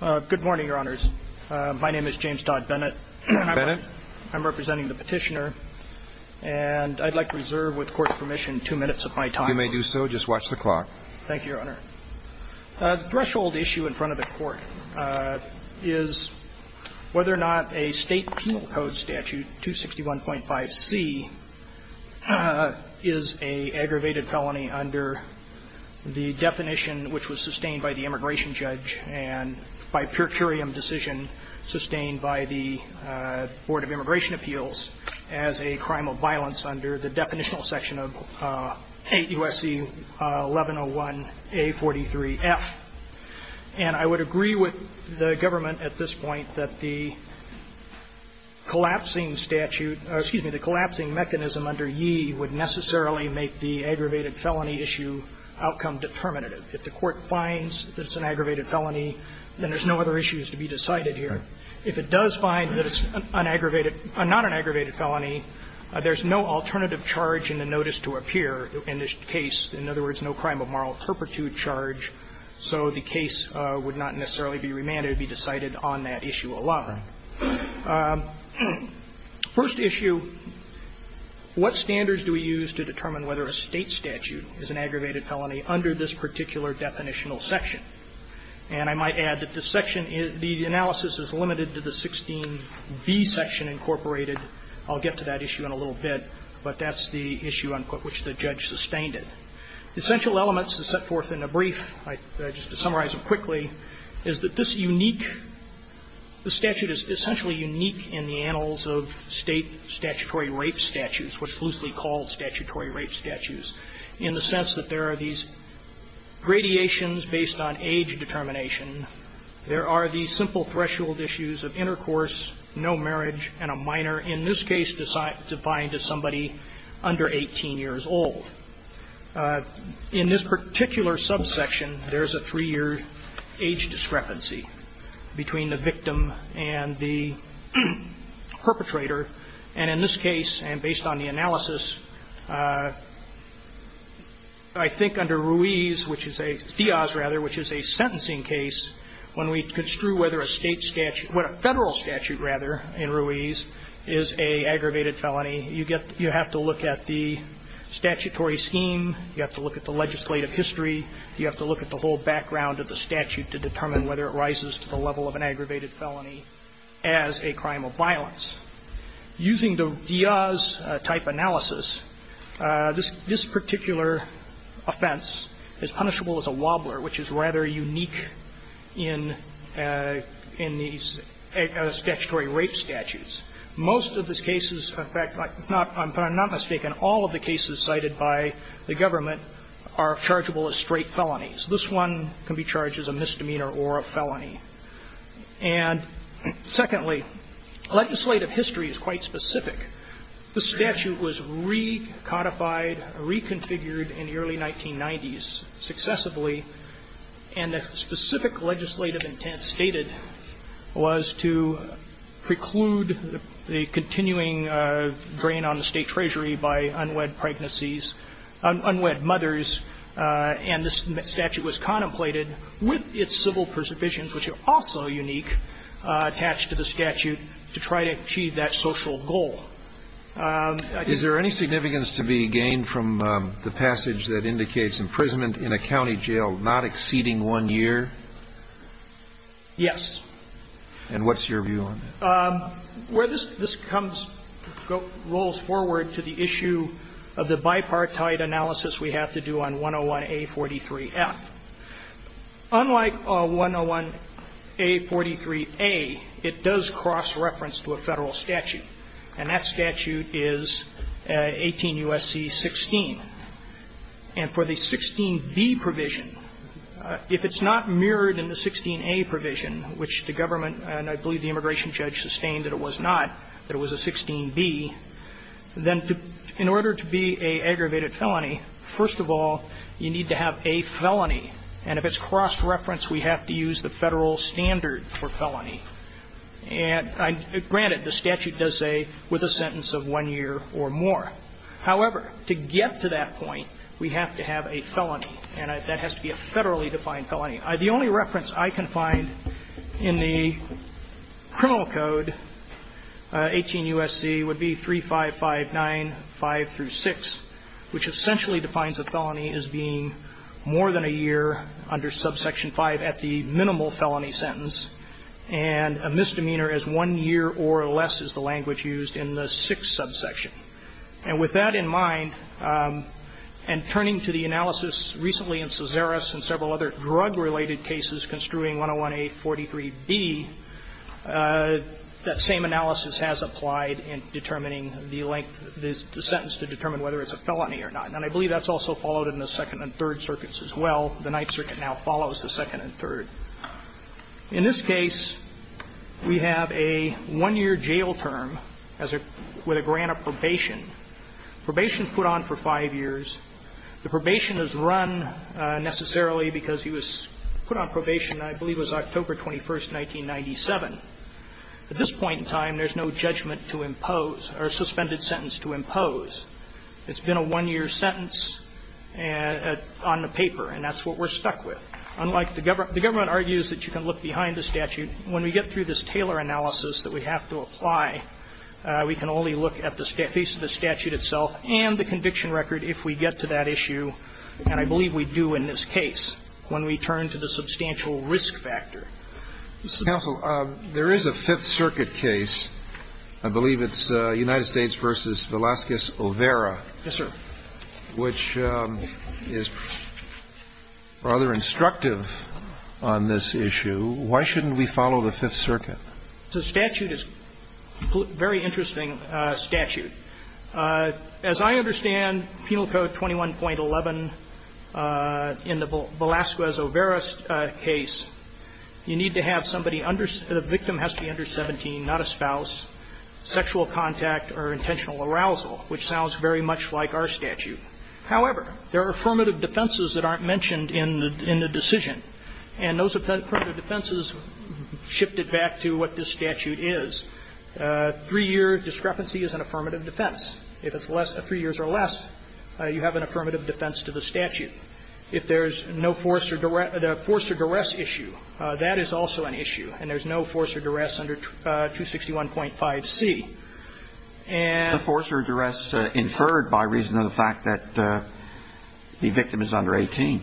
Good morning, Your Honors. My name is James Dodd Bennett. Bennett. I'm representing the petitioner. And I'd like to reserve, with Court's permission, two minutes of my time. You may do so. Just watch the clock. Thank you, Your Honor. The threshold issue in front of the Court is whether or not a state penal code statute, 261.5c, is an aggravated felony under the definition which was sustained by the immigration judge and by a per curiam decision sustained by the Board of Immigration Appeals as a crime of violence under the definitional section of 8 U.S.C. 1101A.4. And I would agree with the government at this point that the collapsing statute or, excuse me, the collapsing mechanism under Yee would necessarily make the aggravated felony issue outcome determinative. If the Court finds that it's an aggravated felony, then there's no other issues to be decided here. If it does find that it's an aggravated or not an aggravated felony, there's no alternative charge in the notice to appear in this case. In other words, no crime of moral turpitude charge. So the case would not necessarily be remanded. It would be decided on that issue alone. First issue, what standards do we use to determine whether a state statute is an aggravated felony under this particular definitional section? And I might add that the section is the analysis is limited to the 16B section incorporated. I'll get to that issue in a little bit, but that's the issue on which the judge sustained it. Essential elements to set forth in a brief, just to summarize it quickly, is that this unique the statute is essentially unique in the annals of state statutory rape statutes, which loosely called statutory rape statutes, in the sense that there are these gradations based on age determination. There are these simple threshold issues of intercourse, no marriage, and a minor in this case defined as somebody under 18 years old. In this particular subsection, there's a three-year age discrepancy between the victim and the perpetrator. And in this case, and based on the analysis, I think under Ruiz, which is a, Diaz rather, which is a sentencing case, when we construe whether a state statute or a Federal statute, rather, in Ruiz is an aggravated felony, you have to look at the statutory scheme, you have to look at the legislative history, you have to look at the whole background of the statute to determine whether it rises to the level of an aggravated felony as a crime of violence. Using the Diaz type analysis, this particular offense is punishable as a wobbler, which is rather unique in these statutory rape statutes. Most of the cases, in fact, if I'm not mistaken, all of the cases cited by the government are chargeable as straight felonies. This one can be charged as a misdemeanor or a felony. And secondly, legislative history is quite specific. The statute was recodified, reconfigured in the early 1990s successively, and the specific legislative intent stated was that the statute was to preclude the continuing drain on the State Treasury by unwed pregnancies unwed mothers, and this statute was contemplated with its civil preservations, which are also unique, attached to the statute to try to achieve that social goal. Is there any significance to be gained from the passage that indicates imprisonment in a county jail not exceeding one year? Yes. And what's your view on that? Well, this comes goes forward to the issue of the bipartite analysis we have to do on 101A43F. Unlike 101A43A, it does cross-reference to a Federal statute, and that statute is 18 U.S.C. 16. And for the 16B provision, if it's not mirrored in the 16A provision, which the government, and I believe the immigration judge, sustained that it was not, that it was a 16B, then in order to be an aggravated felony, first of all, you need to have a felony. And if it's cross-reference, we have to use the Federal standard for felony. And granted, the statute does say, with a sentence of one year or more. However, to get to that point, we have to have a felony, and that has to be a Federally defined felony. The only reference I can find in the criminal code, 18 U.S.C., would be 3559.5 through 6, which essentially defines a felony as being more than a year under subsection 5 at the minimal felony sentence, and a misdemeanor as one year or less is the language used in the 6th subsection. And with that in mind, and turning to the analysis recently in Cesares and several other drug-related cases construing 101A, 43B, that same analysis has applied in determining the length of the sentence to determine whether it's a felony or not. And I believe that's also followed in the Second and Third Circuits as well. The Ninth Circuit now follows the Second and Third. In this case, we have a one-year jail term as a grant of probation. Probation is put on for five years. The probation is run necessarily because he was put on probation, I believe, was October 21st, 1997. At this point in time, there's no judgment to impose or suspended sentence to impose. It's been a one-year sentence on the paper, and that's what we're stuck with. Unlike the government, the government argues that you can look behind the statute. When we get through this Taylor analysis that we have to apply, we can only look at the face of the statute itself and the conviction record if we get to that issue. And I believe we do in this case when we turn to the substantial risk factor. Counsel, there is a Fifth Circuit case. I believe it's United States v. Velazquez-O'Vera. Yes, sir. Which is rather instructive on this issue. Why shouldn't we follow the Fifth Circuit? The statute is a very interesting statute. As I understand, Penal Code 21.11 in the Velazquez-O'Vera case, you need to have somebody under the victim has to be under 17, not a spouse, sexual contact or intentional arousal, which sounds very much like our statute. However, there are affirmative defenses that aren't mentioned in the decision. And those affirmative defenses shifted back to what this statute is. Three-year discrepancy is an affirmative defense. If it's less than three years or less, you have an affirmative defense to the statute. If there's no force or duress issue, that is also an issue. And there's no force or duress under 261.5c. And the force or duress inferred by reason of the fact that the victim is under 18.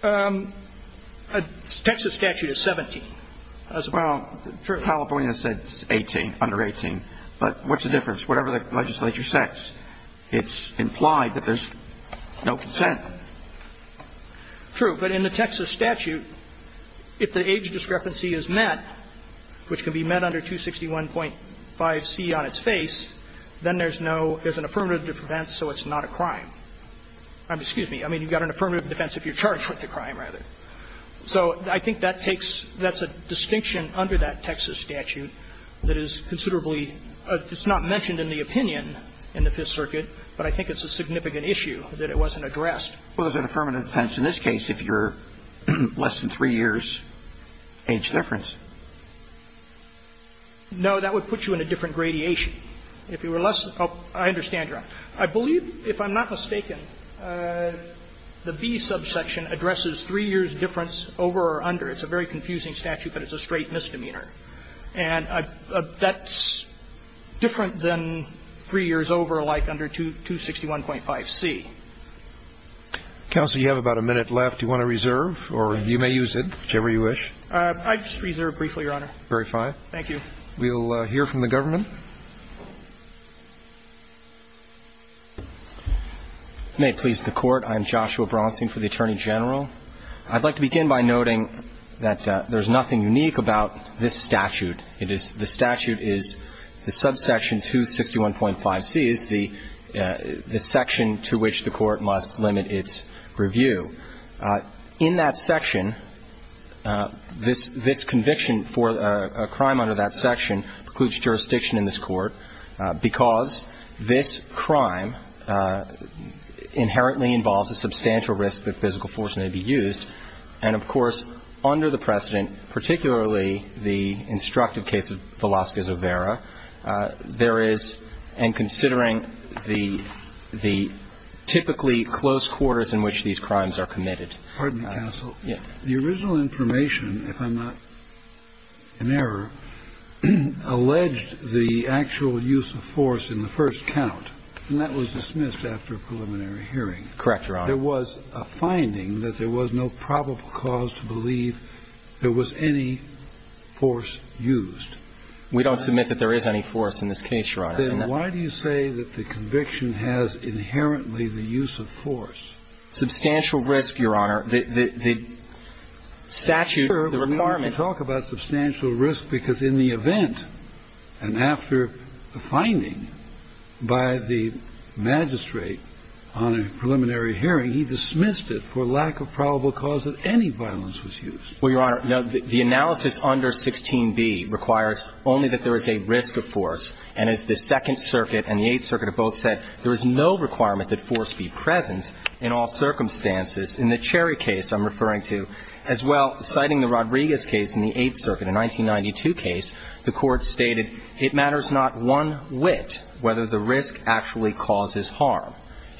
The Texas statute is 17 as well. Well, California said 18, under 18. But what's the difference? Whatever the legislature says, it's implied that there's no consent. True. But in the Texas statute, if the age discrepancy is met, which can be met under 261.5c on its face, then there's no – there's an affirmative defense, so it's not a crime. Excuse me. I mean, you've got an affirmative defense if you're charged with the crime, rather. So I think that takes – that's a distinction under that Texas statute that is considerably – it's not mentioned in the opinion in the Fifth Circuit, but I think it's a significant issue that it wasn't addressed. Well, there's an affirmative defense in this case if you're less than three years' age difference. No. That would put you in a different gradation. If you were less – I understand I believe, if I'm not mistaken, the B subsection addresses three years' difference over or under. It's a very confusing statute, but it's a straight misdemeanor. And that's different than three years over, like under 261.5c. Counsel, you have about a minute left. Do you want to reserve, or you may use it, whichever you wish? I'd just reserve briefly, Your Honor. Very fine. Thank you. We'll hear from the government. May it please the Court. I'm Joshua Bronstein for the Attorney General. I'd like to begin by noting that there's nothing unique about this statute. It is – the statute is the subsection 261.5c is the section to which the Court must limit its review. In that section, this conviction for a crime under that section precludes jurisdiction in this Court because this crime inherently involves a substantial risk that physical force may be used. And, of course, under the precedent, particularly the instructive case of Velazquez-O'Vera, there is – and considering the typically close quarters in which these crimes are committed. Pardon me, counsel. Yes. The original information, if I'm not in error, alleged the actual use of force in the first count, and that was dismissed after a preliminary hearing. Correct, Your Honor. There was a finding that there was no probable cause to believe there was any force used. We don't submit that there is any force in this case, Your Honor. Then why do you say that the conviction has inherently the use of force? Substantial risk, Your Honor. The statute, the requirement – Talk about substantial risk, because in the event, and after the finding by the magistrate on a preliminary hearing, he dismissed it for lack of probable cause that any violence was used. Well, Your Honor, no. The analysis under 16b requires only that there is a risk of force. And as the Second Circuit and the Eighth Circuit have both said, there is no requirement that force be present in all circumstances. In the Cherry case I'm referring to, as well, citing the Rodriguez case in the Eighth Circuit, a 1992 case, the Court stated it matters not one whit whether the risk actually causes harm.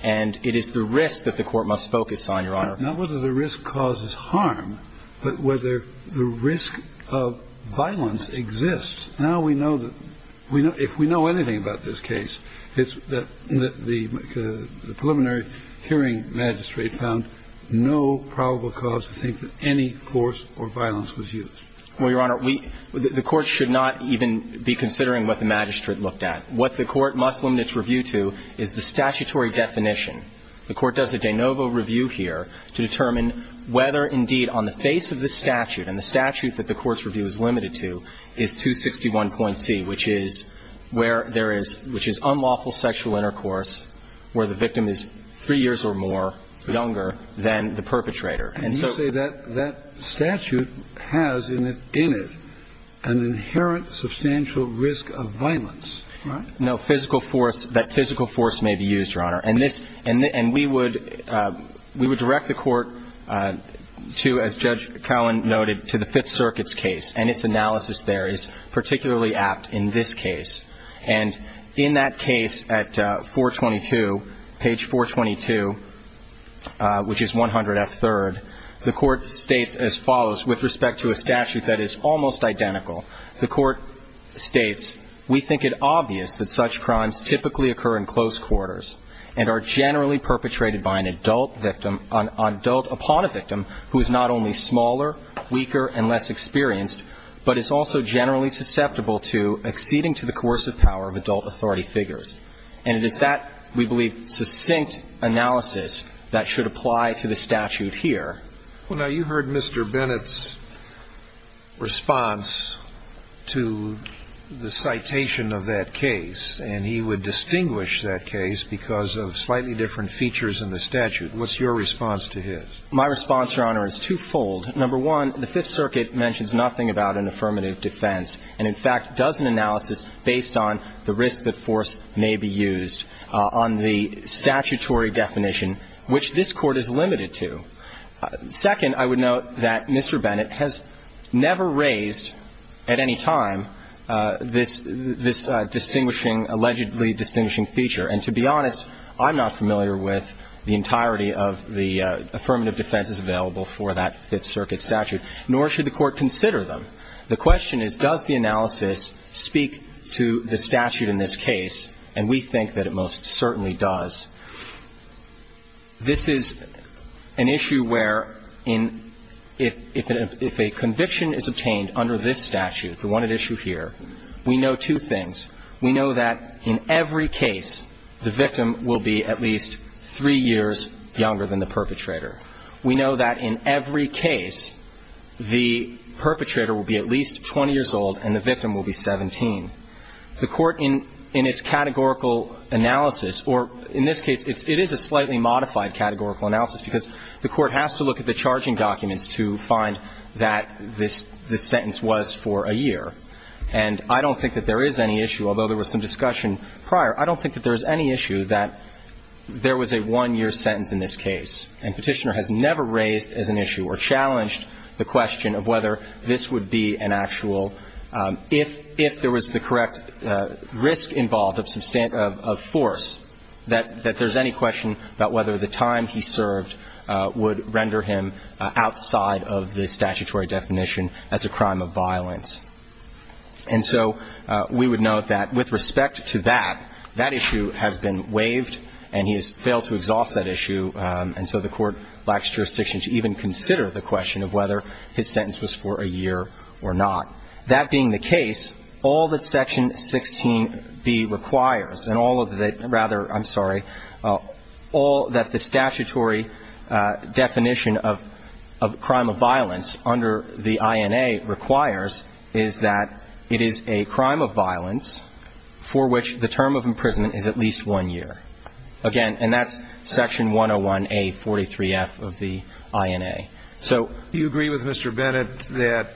And it is the risk that the Court must focus on, Your Honor. Not whether the risk causes harm, but whether the risk of violence exists. Now we know that – if we know anything about this case, it's that the preliminary hearing magistrate found no probable cause to think that any force or violence was used. Well, Your Honor, we – the Court should not even be considering what the magistrate looked at. What the Court must limit its review to is the statutory definition. The Court does a de novo review here to determine whether, indeed, on the face of the And that's what we're looking at in the 61.C, which is where there is – which is unlawful sexual intercourse where the victim is three years or more younger than the perpetrator. And so – And you say that that statute has in it an inherent substantial risk of violence, right? No. Physical force – that physical force may be used, Your Honor. And this – and we would – we would direct the Court to, as Judge Cowen noted, to the Fifth Circuit's case. And its analysis there is particularly apt in this case. And in that case at 422, page 422, which is 100F3rd, the Court states as follows with respect to a statute that is almost identical. The Court states, we think it obvious that such crimes typically occur in close quarters and are generally perpetrated by an adult victim – an adult upon a victim who is not only smaller, weaker, and less experienced, but is also generally susceptible to acceding to the coercive power of adult authority figures. And it is that, we believe, succinct analysis that should apply to the statute here. Well, now, you heard Mr. Bennett's response to the citation of that case. And he would distinguish that case because of slightly different features in the statute. What's your response to his? My response, Your Honor, is twofold. Number one, the Fifth Circuit mentions nothing about an affirmative defense and, in fact, does an analysis based on the risk that force may be used on the statutory definition, which this Court is limited to. Second, I would note that Mr. Bennett has never raised at any time this – this distinguishing – allegedly distinguishing feature. And to be honest, I'm not familiar with the entirety of the affirmative defenses available for that Fifth Circuit statute, nor should the Court consider them. The question is, does the analysis speak to the statute in this case? And we think that it most certainly does. This is an issue where in – if a conviction is obtained under this statute, the one thing that we know is that there is a significant issue here. We know two things. We know that in every case, the victim will be at least three years younger than the perpetrator. We know that in every case, the perpetrator will be at least 20 years old and the victim will be 17. The Court in – in its categorical analysis, or in this case, it's – it is a slightly modified categorical analysis because the Court has to look at the charging documents to find that this – this sentence was for a year. And I don't think that there is any issue, although there was some discussion prior, I don't think that there is any issue that there was a one-year sentence in this case. And Petitioner has never raised as an issue or challenged the question of whether this would be an actual – if – if there was the correct risk involved of substantive – of force, that – that there's any question about whether the time he served would render him outside of the statutory definition as a crime of violence. And so we would note that with respect to that, that issue has been waived and he has failed to exhaust that issue. And so the Court lacks jurisdiction to even consider the question of whether his sentence was for a year or not. That being the case, all that Section 16b requires and all of the – rather, I'm sorry, the statutory definition of – of crime of violence under the INA requires is that it is a crime of violence for which the term of imprisonment is at least one year. Again, and that's Section 101A43F of the INA. So… Do you agree with Mr. Bennett that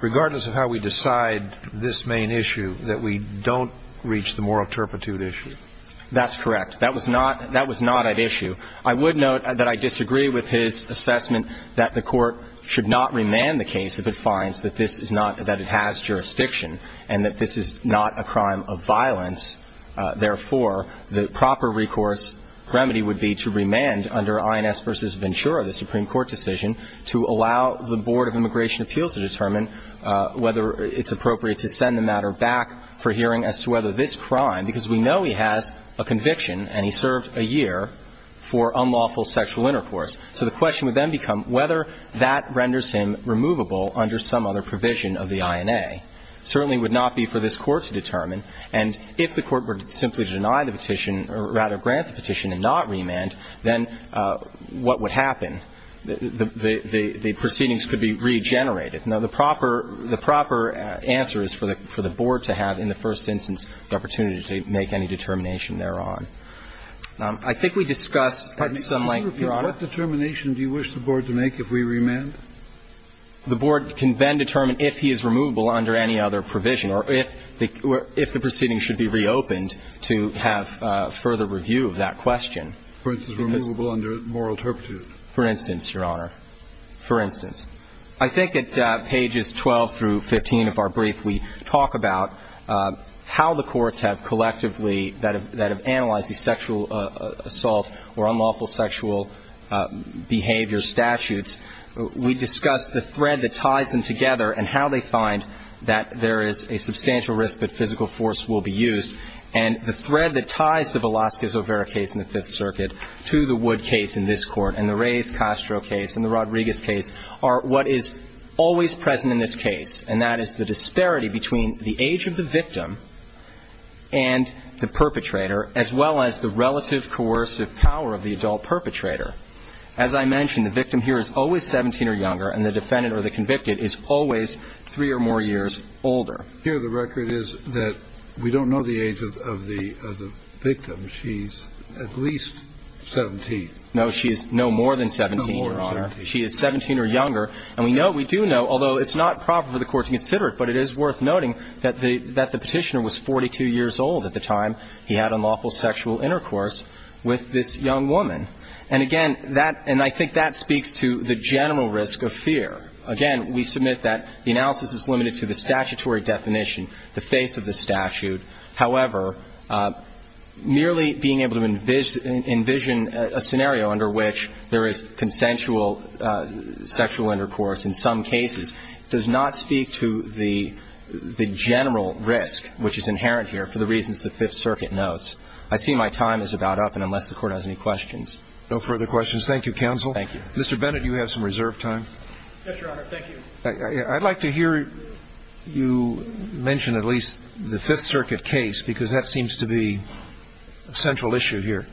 regardless of how we decide this main issue, that we don't reach the moral turpitude issue? That's correct. That was not – that was not at issue. I would note that I disagree with his assessment that the Court should not remand the case if it finds that this is not – that it has jurisdiction and that this is not a crime of violence. Therefore, the proper recourse remedy would be to remand under INS v. Ventura, the Supreme Court decision, to allow the Board of Immigration Appeals to determine whether it's appropriate to send the matter back for hearing as to whether this crime – because we know he has a conviction and he served a year for unlawful sexual intercourse. So the question would then become whether that renders him removable under some other provision of the INA. It certainly would not be for this Court to determine. And if the Court were simply to deny the petition, or rather grant the petition and not remand, then what would happen? The proceedings could be regenerated. Now, the proper – the proper answer is for the Board to have, in the first instance, the opportunity to make any determination thereon. I think we discussed at some length, Your Honor. What determination do you wish the Board to make if we remand? The Board can then determine if he is removable under any other provision or if the proceedings should be reopened to have further review of that question. For instance, removable under moral turpitude. For instance, Your Honor. For instance. I think at pages 12 through 15 of our brief, we talk about how the courts have collectively – that have analyzed the sexual assault or unlawful sexual behavior statutes. We discuss the thread that ties them together and how they find that there is a substantial risk that physical force will be used. And the thread that ties the Velazquez-O'Vera case in the Fifth Circuit to the Wood case in this Court and the Reyes-Castro case and the Rodriguez case are what is always present in this case, and that is the disparity between the age of the victim and the perpetrator, as well as the relative coercive power of the adult perpetrator. As I mentioned, the victim here is always 17 or younger, and the defendant or the convicted is always three or more years older. Here the record is that we don't know the age of the victim. She's at least 17. No more than 17. She is 17 or younger. And we know – we do know, although it's not proper for the Court to consider it, but it is worth noting that the Petitioner was 42 years old at the time he had unlawful sexual intercourse with this young woman. And again, that – and I think that speaks to the general risk of fear. Again, we submit that the analysis is limited to the statutory definition, the face of the statute. However, merely being able to envision a scenario under which there is consensual sexual intercourse in some cases does not speak to the general risk, which is inherent here, for the reasons the Fifth Circuit notes. I see my time is about up, and unless the Court has any questions. No further questions. Thank you, counsel. Thank you. Mr. Bennett, you have some reserve time. Yes, Your Honor. Thank you. I'd like to hear you mention at least the Fifth Circuit case, because that seems to be a central issue here.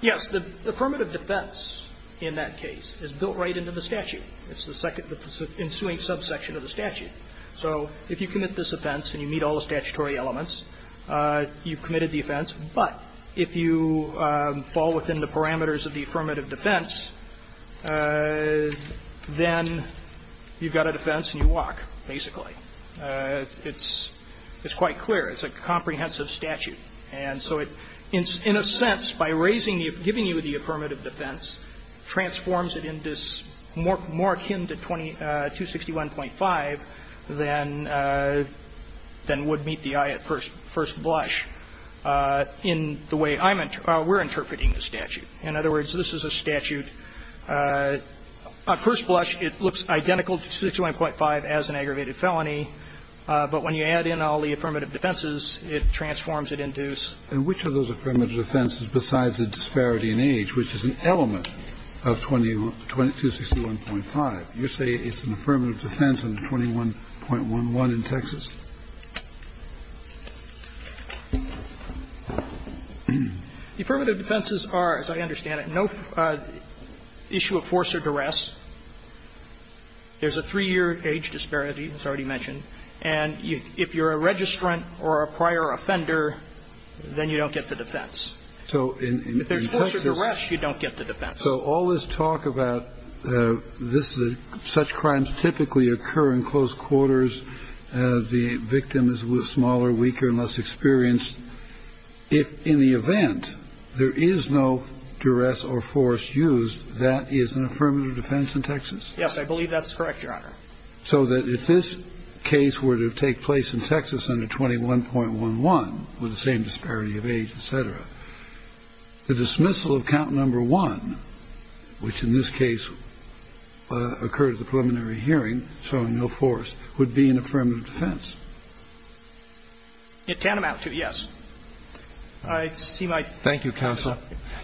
Yes. The affirmative defense in that case is built right into the statute. It's the second – the ensuing subsection of the statute. So if you commit this offense and you meet all the statutory elements, you've committed the offense. But if you fall within the parameters of the affirmative defense, then you've got a defense and you walk, basically. It's quite clear. It's a comprehensive statute. And so it, in a sense, by raising the – giving you the affirmative defense, transforms it into this more akin to 261.5 than would meet the eye at first blush in the way I'm – we're interpreting the statute. In other words, this is a statute – at first blush, it looks identical to 261.5 as an aggravated felony. But when you add in all the affirmative defenses, it transforms it into this. And which of those affirmative defenses besides the disparity in age, which is an element of 261.5, you say it's an affirmative defense under 21.11 in Texas? The affirmative defenses are, as I understand it, no issue of force or duress. There's a three-year age disparity, as I already mentioned. And if you're a registrant or a prior offender, then you don't get the defense. If there's force or duress, you don't get the defense. So all this talk about this – such crimes typically occur in close quarters, the victim is smaller, weaker, less experienced. If in the event there is no duress or force used, that is an affirmative defense in Texas? Yes. I believe that's correct, Your Honor. So that if this case were to take place in Texas under 21.11 with the same disparity of age, et cetera, the dismissal of count number one, which in this case occurred at the preliminary hearing showing no force, would be an affirmative defense? It can amount to, yes. I see my time is up. Thank you, counsel.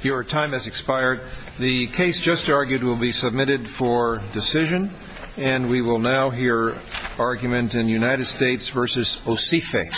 Your time has expired. The case just argued will be submitted for decision. And we will now hear argument in United States v. Osife.